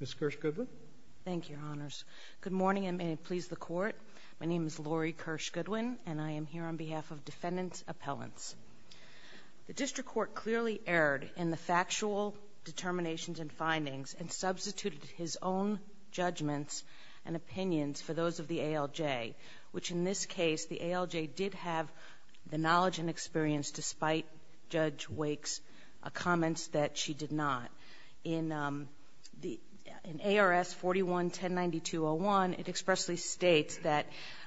Ms. Kirsch Goodwin. Thank you, Your Honors. Good morning and may it please the Court. My name is Lori Kirsch Goodwin and I am here on behalf of Defendant Appellants. The District Court clearly erred in the factual determinations and findings and substituted his own judgments and opinions for those of the ALJ, which in this case the ALJ did have the knowledge and experience despite Judge Wake's comments that she did not. In ARS 41109201, it expressly states that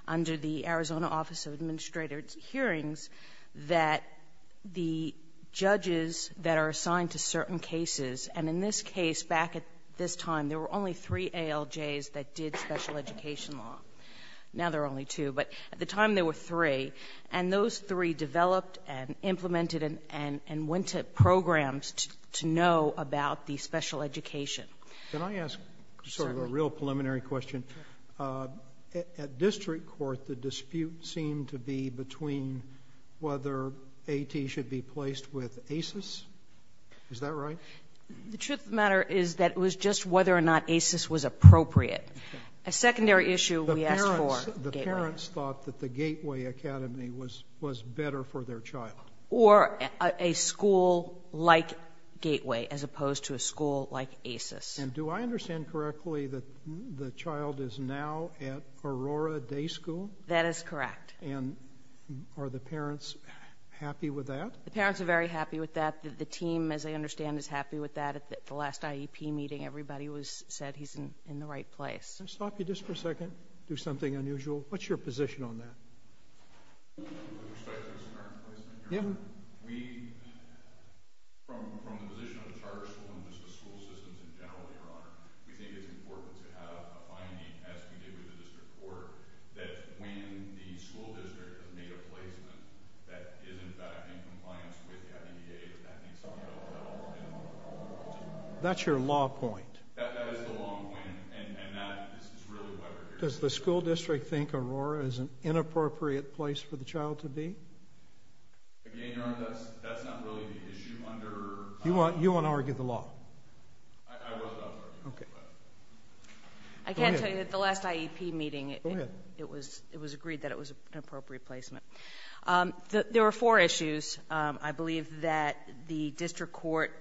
under the Arizona Office of Administrative Hearings that the judges that are assigned to certain cases, and in this case back at this time there were only three ALJs that did special education law. Now there are only two, but at the time there were three, and those three developed and implemented and went to programs to know about the special education. Can I ask sort of a real preliminary question? At District Court, the dispute seemed to be between whether A.T. should be placed with ACES. Is that right? The truth of the matter is that it was just whether or not ACES was appropriate. A secondary issue we asked for. The parents thought that the Gateway Academy was better for their child. Or a school like Gateway as opposed to a school like ACES. And do I understand correctly that the child is now at Aurora Day School? That is correct. And are the parents happy with that? The parents are very happy with that. The team, as I understand, is happy with that. At the last IEP meeting, everybody said he's in the right place. Can I stop you just for a second? Do something unusual. What's your position on that? With respect to his current placement, Your Honor, from the position of the charter school and just the school systems in general, Your Honor, we think it's important to have a finding, as we did with the District Court, that when the school district is made a placement that is in fact in compliance with the IDEA. That's your law point. That is the law point, and that is really why we're here. Does the school district think Aurora is an inappropriate place for the child to be? Again, Your Honor, that's not really the issue. You want to argue the law? I was about to argue the law. I can tell you that at the last IEP meeting it was agreed that it was an appropriate placement. There were four issues, I believe, that the District Court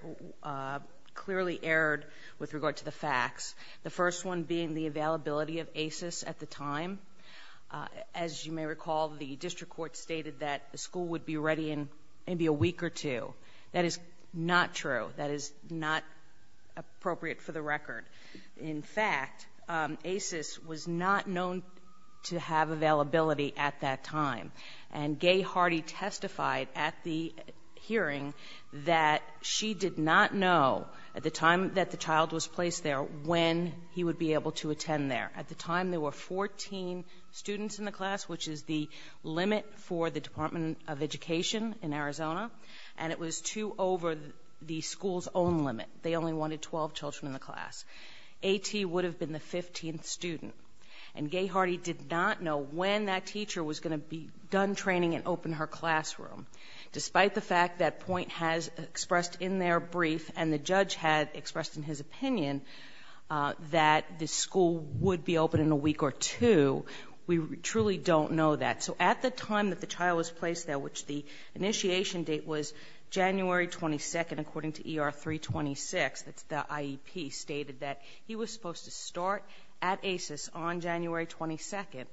clearly erred with regard to the facts. The first one being the availability of ACES at the time. As you may recall, the District Court stated that the school would be ready in maybe a week or two. That is not true. That is not appropriate for the record. In fact, ACES was not known to have availability at that time, and Gay Hardy testified at the hearing that she did not know at the time that the child was placed there when he would be able to attend there. At the time there were 14 students in the class, which is the limit for the Department of Education in Arizona, and it was two over the school's own limit. They only wanted 12 children in the class. A.T. would have been the 15th student, and Gay Hardy did not know when that teacher was going to be done training and open her classroom. Despite the fact that Point has expressed in their brief and the judge had expressed in his opinion that the school would be open in a week or two, we truly don't know that. So at the time that the child was placed there, which the initiation date was January 22nd, according to ER 326, that's the IEP, stated that he was supposed to start at ACES on January 22nd.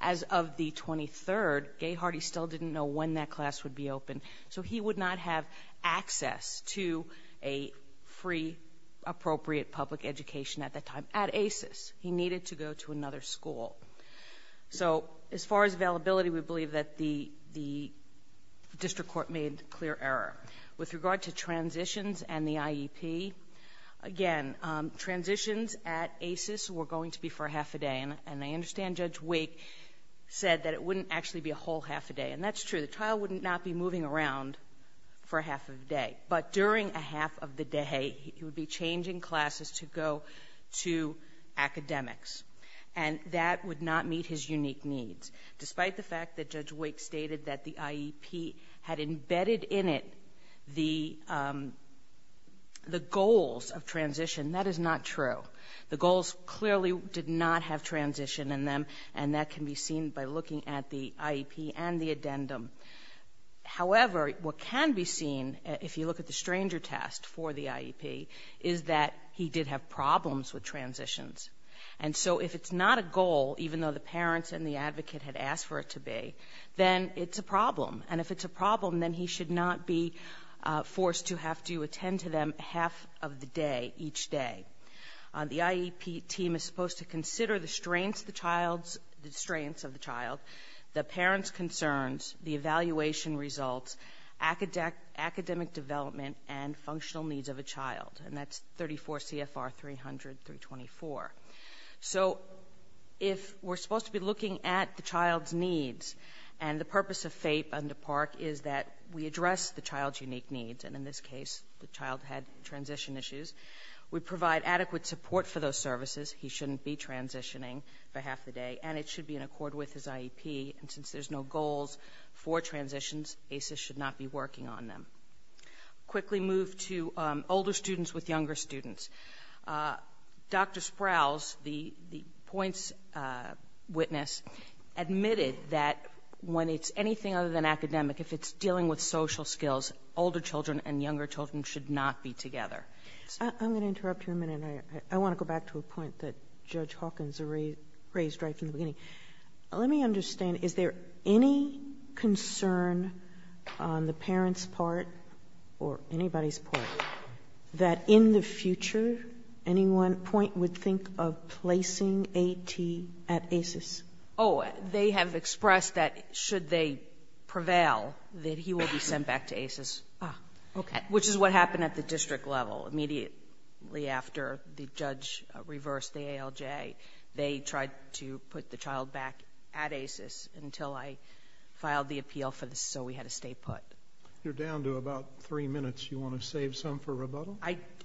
As of the 23rd, Gay Hardy still didn't know when that class would be open, so he would not have access to a free, appropriate public education at that time at ACES. He needed to go to another school. So as far as availability, we believe that the district court made clear error. With regard to transitions and the IEP, again, transitions at ACES were going to be for half a day, and I understand Judge Wake said that it wouldn't actually be a whole half a day, and that's true. The child would not be moving around for half a day, but during a half of the day, he would be changing classes to go to academics, and that would not meet his unique needs. Despite the fact that Judge Wake stated that the IEP had embedded in it the goals of transition, that is not true. The goals clearly did not have transition in them, and that can be seen by looking at the IEP and the addendum. However, what can be seen, if you look at the stranger test for the IEP, is that he did have problems with transitions. And so if it's not a goal, even though the parents and the advocate had asked for it to be, then it's a problem. And if it's a problem, then he should not be forced to have to attend to them half of the day each day. The IEP team is supposed to consider the strains of the child, the parents' concerns, the evaluation results, academic development, and functional needs of a child, and that's 34 CFR 300-324. So if we're supposed to be looking at the child's needs, and the purpose of FAPE under PARCC is that we address the child's unique needs, and in this case, the child had transition issues, we provide adequate support for those services, he shouldn't be transitioning for half the day, and it should be in accord with his IEP. And since there's no goals for transitions, ACES should not be working on them. Quickly move to older students with younger students. Dr. Sprouse, the points witness, admitted that when it's anything other than academic, if it's dealing with social skills, older children and younger children should not be together. I'm going to interrupt you a minute. I want to go back to a point that Judge Hawkins raised right from the beginning. Let me understand, is there any concern on the parents' part or anybody's part that in the future, any one point would think of placing AT at ACES? Oh, they have expressed that should they prevail, that he will be sent back to ACES, which is what happened at the district level immediately after the judge reversed the ALJ. They tried to put the child back at ACES until I filed the appeal so we had to stay put. You're down to about three minutes. Do you want to save some for rebuttal?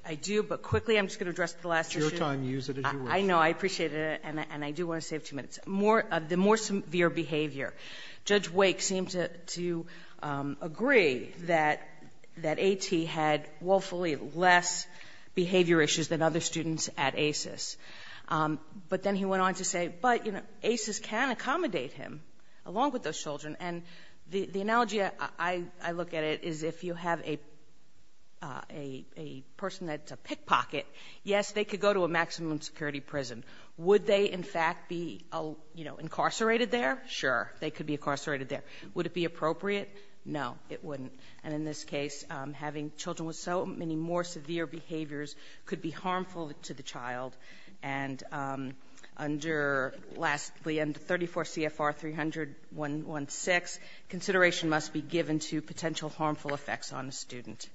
I do, but quickly, I'm just going to address the last issue. It's your time. Use it as you wish. I know. I appreciate it, and I do want to save two minutes. The more severe behavior. Judge Wake seemed to agree that AT had woefully less behavior issues than other students at ACES. But then he went on to say, but, you know, ACES can accommodate him along with those children. The analogy I look at it is if you have a person that's a pickpocket, yes, they could go to a maximum security prison. Would they, in fact, be incarcerated there? Sure, they could be incarcerated there. Would it be appropriate? No, it wouldn't. And in this case, having children with so many more severe behaviors could be harmful to the child. And under, lastly, under 34 CFR 300-116, consideration must be given to potential harmful effects on a student.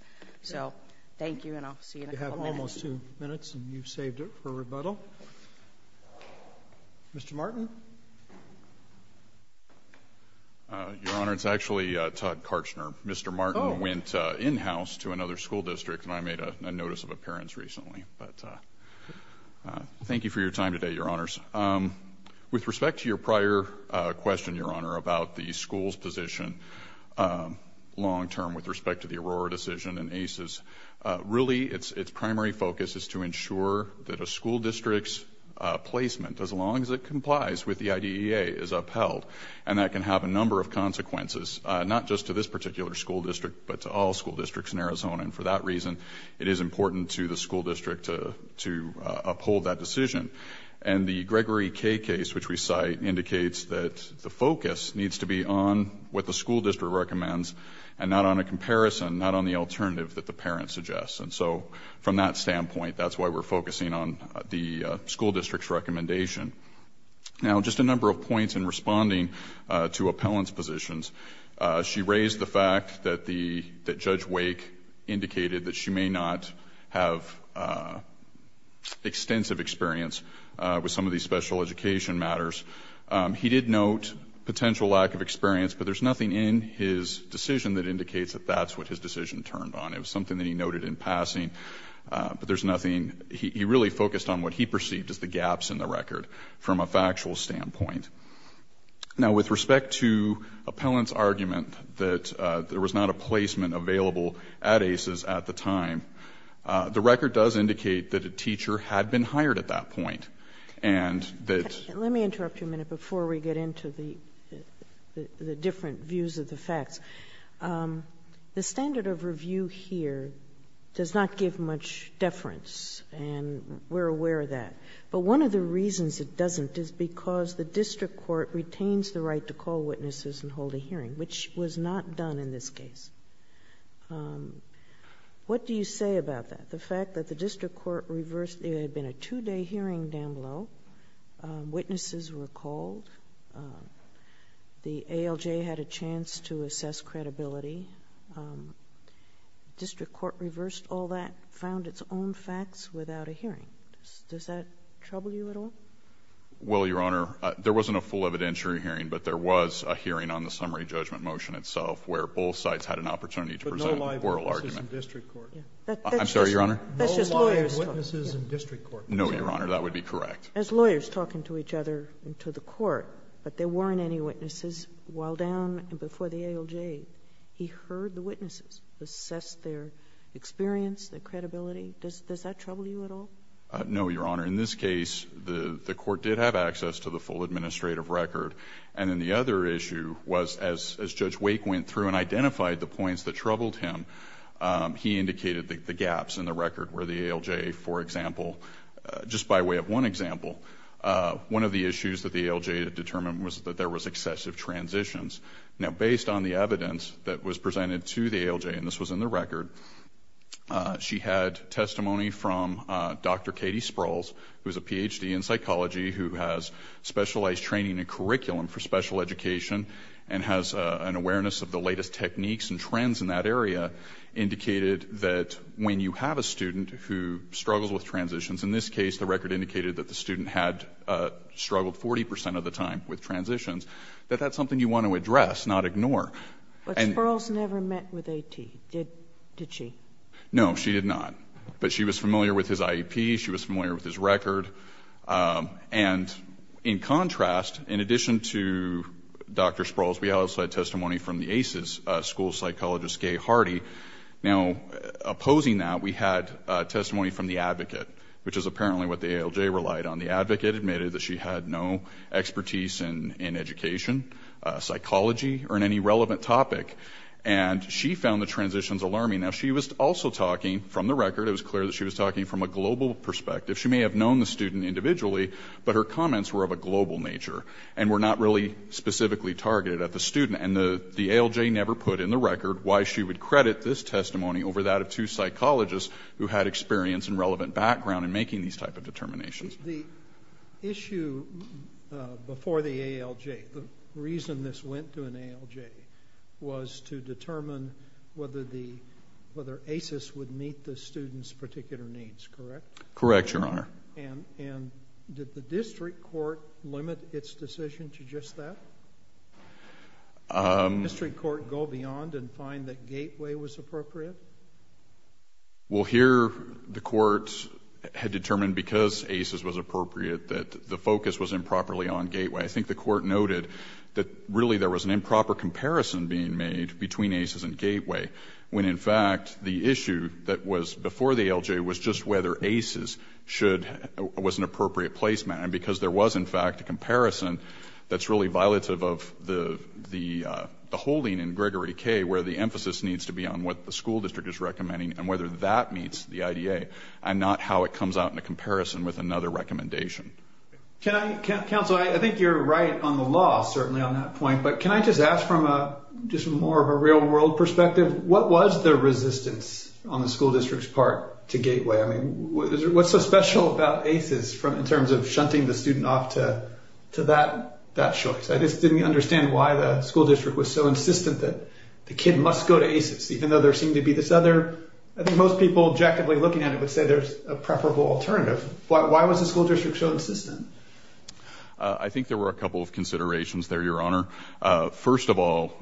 So thank you, and I'll see you in a couple minutes. You have almost two minutes, and you've saved it for rebuttal. Mr. Martin. Your Honor, it's actually Todd Karchner. Oh. Mr. Martin went in-house to another school district, and I made a notice of appearance recently, but thank you for your time today, Your Honors. With respect to your prior question, Your Honor, about the school's position long-term with respect to the Aurora decision and ACES, really its primary focus is to ensure that a school district's placement, as long as it complies with the IDEA, is upheld. And that can have a number of consequences, not just to this particular school district, but to all school districts in Arizona. And for that reason, it is important to the school district to uphold that decision. And the Gregory K case, which we cite, indicates that the focus needs to be on what the school district recommends and not on a comparison, not on the alternative that the parent suggests. And so from that standpoint, that's why we're focusing on the school district's recommendation. Now, just a number of points in responding to appellant's positions. She raised the fact that Judge Wake indicated that she may not have extensive experience with some of these special education matters. He did note potential lack of experience, but there's nothing in his decision that indicates that that's what his decision turned on. It was something that he noted in passing, but there's nothing. He really focused on what he perceived as the gaps in the record from a factual standpoint. Now, with respect to appellant's argument that there was not a placement available at ACES at the time, the record does indicate that a teacher had been hired at that point. And that's the case. Let me interrupt you a minute before we get into the different views of the facts. The standard of review here does not give much deference, and we're aware of that. But one of the reasons it doesn't is because the district court retains the right to call witnesses and hold a hearing, which was not done in this case. What do you say about that? The fact that the district court reversed... there had been a two-day hearing down below. Witnesses were called. The ALJ had a chance to assess credibility. Does that trouble you at all? Well, Your Honor, there wasn't a full evidentiary hearing, but there was a hearing on the summary judgment motion itself where both sides had an opportunity to present an oral argument. But no live witnesses in district court. I'm sorry, Your Honor? No live witnesses in district court. No, Your Honor. That would be correct. As lawyers talking to each other and to the court, but there weren't any witnesses while down before the ALJ, he heard the witnesses assess their experience, their credibility. Does that trouble you at all? No, Your Honor. In this case, the court did have access to the full administrative record. And then the other issue was as Judge Wake went through and identified the points that troubled him, he indicated the gaps in the record where the ALJ, for example, just by way of one example, one of the issues that the ALJ had determined was that there was excessive transitions. Now, based on the evidence that was presented to the ALJ, and this was in the record, she had testimony from Dr. Katie Sprouls, who is a Ph.D. in psychology who has specialized training in curriculum for special education and has an awareness of the latest techniques and trends in that area, indicated that when you have a student who struggles with transitions, in this case the record indicated that the student had struggled 40 percent of the time with transitions, that that's something you want to address, not ignore. But Sprouls never met with A.T., did she? No, she did not. But she was familiar with his IEP. She was familiar with his record. And in contrast, in addition to Dr. Sprouls, we also had testimony from the ACES, school psychologist Gay Hardy. Now, opposing that, we had testimony from the advocate, which is apparently what the ALJ relied on. The advocate admitted that she had no expertise in education, psychology, or in any relevant topic, and she found the transitions alarming. Now, she was also talking from the record. It was clear that she was talking from a global perspective. She may have known the student individually, but her comments were of a global nature and were not really specifically targeted at the student. And the ALJ never put in the record why she would credit this testimony over that of two psychologists who had experience and relevant background in making these type of determinations. The issue before the ALJ, the reason this went to an ALJ, was to determine whether ACES would meet the student's particular needs, correct? Correct, Your Honor. And did the district court limit its decision to just that? Did the district court go beyond and find that Gateway was appropriate? Well, here the court had determined because ACES was appropriate that the focus was improperly on Gateway. I think the court noted that, really, there was an improper comparison being made between ACES and Gateway, when, in fact, the issue that was before the ALJ was just whether ACES was an appropriate placement. And because there was, in fact, a comparison that's really violative of the holding where the emphasis needs to be on what the school district is recommending and whether that meets the IDA and not how it comes out in a comparison with another recommendation. Counsel, I think you're right on the law, certainly, on that point. But can I just ask from just more of a real-world perspective, what was the resistance on the school district's part to Gateway? I mean, what's so special about ACES in terms of shunting the student off to that choice? I just didn't understand why the school district was so insistent that the kid must go to ACES, even though there seemed to be this other... I think most people objectively looking at it would say there's a preferable alternative. Why was the school district so insistent? I think there were a couple of considerations there, Your Honor. First of all,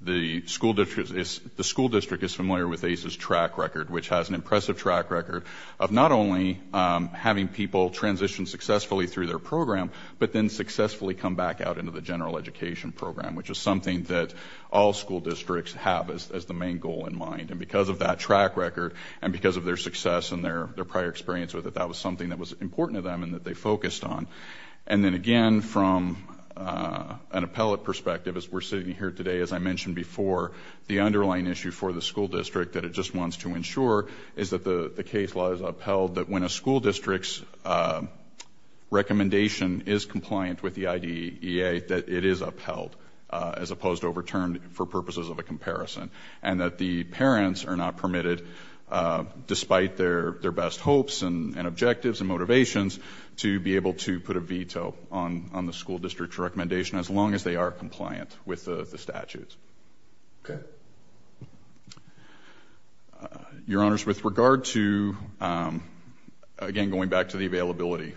the school district is familiar with ACES' track record, which has an impressive track record of not only having people transition successfully through their program but then successfully come back out into the general education program, which is something that all school districts have as the main goal in mind. And because of that track record and because of their success and their prior experience with it, that was something that was important to them and that they focused on. And then, again, from an appellate perspective, as we're sitting here today, as I mentioned before, the underlying issue for the school district that it just wants to ensure is that the case law is upheld that when a school district's recommendation is compliant with the IDEA, that it is upheld as opposed to overturned for purposes of a comparison and that the parents are not permitted, despite their best hopes and objectives and motivations, to be able to put a veto on the school district's recommendation as long as they are compliant with the statutes. Okay. Your Honors, with regard to, again, going back to the availability,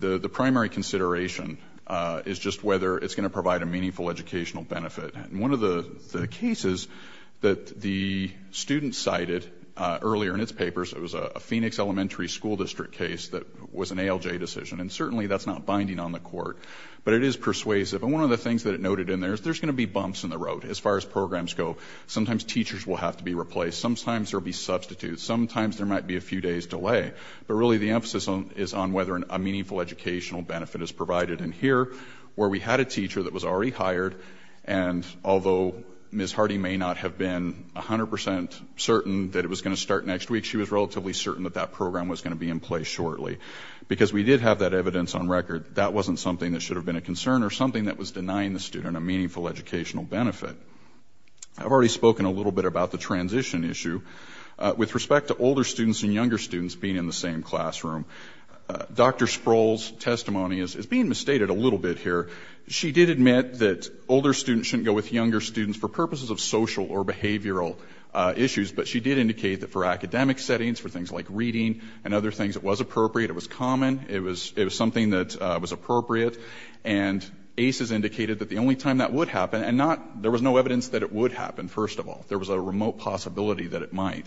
the primary consideration is just whether it's going to provide a meaningful educational benefit. And one of the cases that the student cited earlier in its papers, it was a Phoenix Elementary School District case that was an ALJ decision, and certainly that's not binding on the Court, but it is persuasive. And one of the things that it noted in there is there's going to be bumps in the road as far as programs go. Sometimes teachers will have to be replaced. Sometimes there will be substitutes. Sometimes there might be a few days' delay. But really the emphasis is on whether a meaningful educational benefit is provided. And here, where we had a teacher that was already hired, and although Ms. Hardy may not have been 100% certain that it was going to start next week, she was relatively certain that that program was going to be in place shortly. Because we did have that evidence on record, that wasn't something that should have been a concern or something that was denying the student a meaningful educational benefit. I've already spoken a little bit about the transition issue. With respect to older students and younger students being in the same classroom, Dr. Sproul's testimony is being misstated a little bit here. She did admit that older students shouldn't go with younger students for purposes of social or behavioral issues, but she did indicate that for academic settings, for things like reading and other things, it was appropriate, it was common, it was something that was appropriate. And ACES indicated that the only time that would happen, and there was no evidence that it would happen, first of all. There was a remote possibility that it might.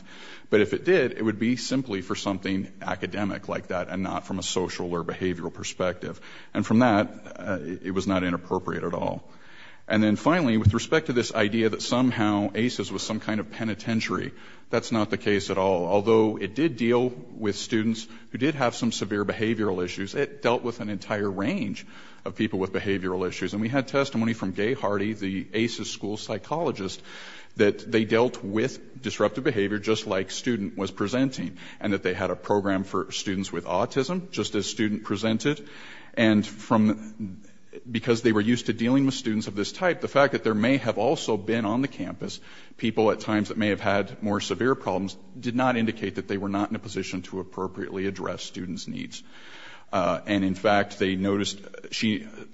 But if it did, it would be simply for something academic like that and not from a social or behavioral perspective. And from that, it was not inappropriate at all. And then finally, with respect to this idea that somehow ACES was some kind of penitentiary, that's not the case at all. Although it did deal with students who did have some severe behavioral issues, it dealt with an entire range of people with behavioral issues. And we had testimony from Gay Hardy, the ACES school psychologist, that they dealt with disruptive behavior just like student was presenting and that they had a program for students with autism just as student presented. And because they were used to dealing with students of this type, the fact that there may have also been on the campus people at times that may have had more severe problems did not indicate that they were not in a position to appropriately address students' needs. And, in fact, they noticed,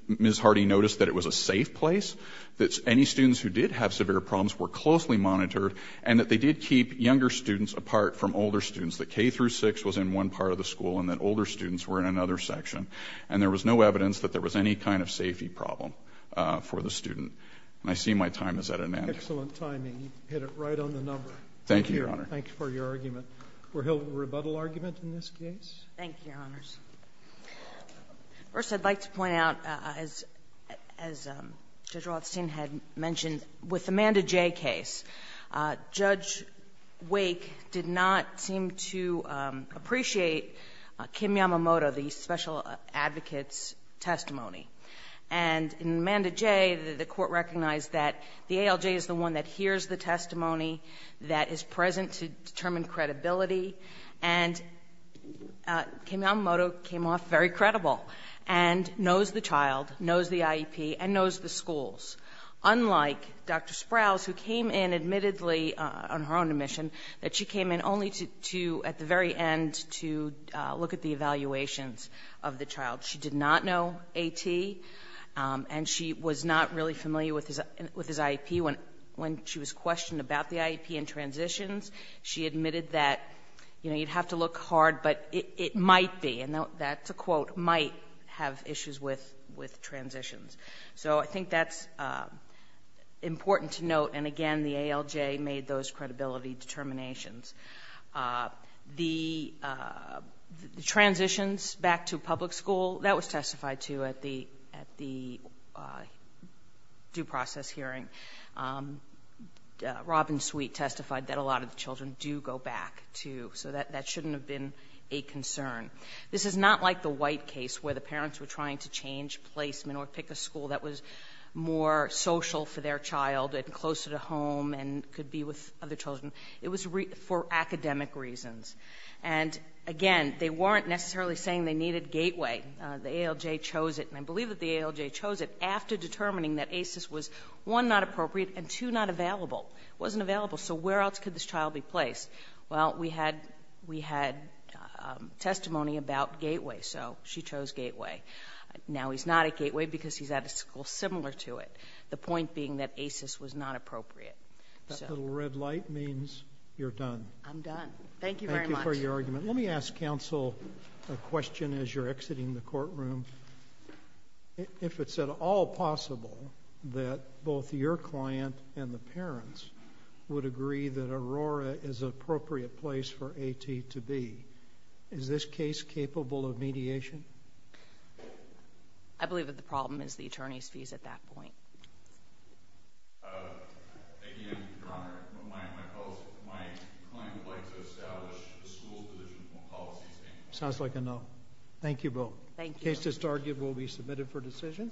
Ms. Hardy noticed that it was a safe place, that any students who did have severe problems were closely monitored, and that they did keep younger students apart from older students, that K through 6 was in one part of the school and that older students were in another section. And there was no evidence that there was any kind of safety problem for the student. And I see my time is at an end. Excellent timing. You hit it right on the number. Thank you, Your Honor. Thank you for your argument. Were Hill a rebuttal argument in this case? Thank you, Your Honors. First, I'd like to point out, as Judge Rothstein had mentioned, with the Amanda Jay case, Judge Wake did not seem to appreciate Kim Yamamoto, the special advocate's testimony. And in Amanda Jay, the Court recognized that the ALJ is the one that hears the testimony that is present to determine credibility. And Kim Yamamoto came off very credible and knows the child, knows the IEP, and knows the schools. Unlike Dr. Sprouse, who came in, admittedly, on her own admission, that she came in only to, at the very end, to look at the evaluations of the child. She did not know AT, and she was not really familiar with his IEP. When she was questioned about the IEP and transitions, she admitted that, you know, you'd have to look hard, but it might be, and that's a quote, might have issues with transitions. So I think that's important to note. And, again, the ALJ made those credibility determinations. The transitions back to public school, that was testified to at the due process hearing. Robin Sweet testified that a lot of the children do go back to. So that shouldn't have been a concern. This is not like the White case where the parents were trying to change placement or pick a school that was more social for their child and closer to home and could be with other children. It was for academic reasons. And, again, they weren't necessarily saying they needed Gateway. The ALJ chose it, and I believe that the ALJ chose it, after determining that ACES was, one, not appropriate, and, two, not available. It wasn't available, so where else could this child be placed? Well, we had testimony about Gateway, so she chose Gateway. Now he's not at Gateway because he's at a school similar to it, the point being that ACES was not appropriate. That little red light means you're done. I'm done. Thank you very much. Thank you for your argument. Let me ask counsel a question as you're exiting the courtroom. If it's at all possible that both your client and the parents would agree that Aurora is an appropriate place for AT to be, is this case capable of mediation? I believe that the problem is the attorney's fees at that point. Again, Your Honor, my client would like to establish the school's policy statement. Sounds like a no. Thank you both. Thank you. The case to start will be submitted for decision.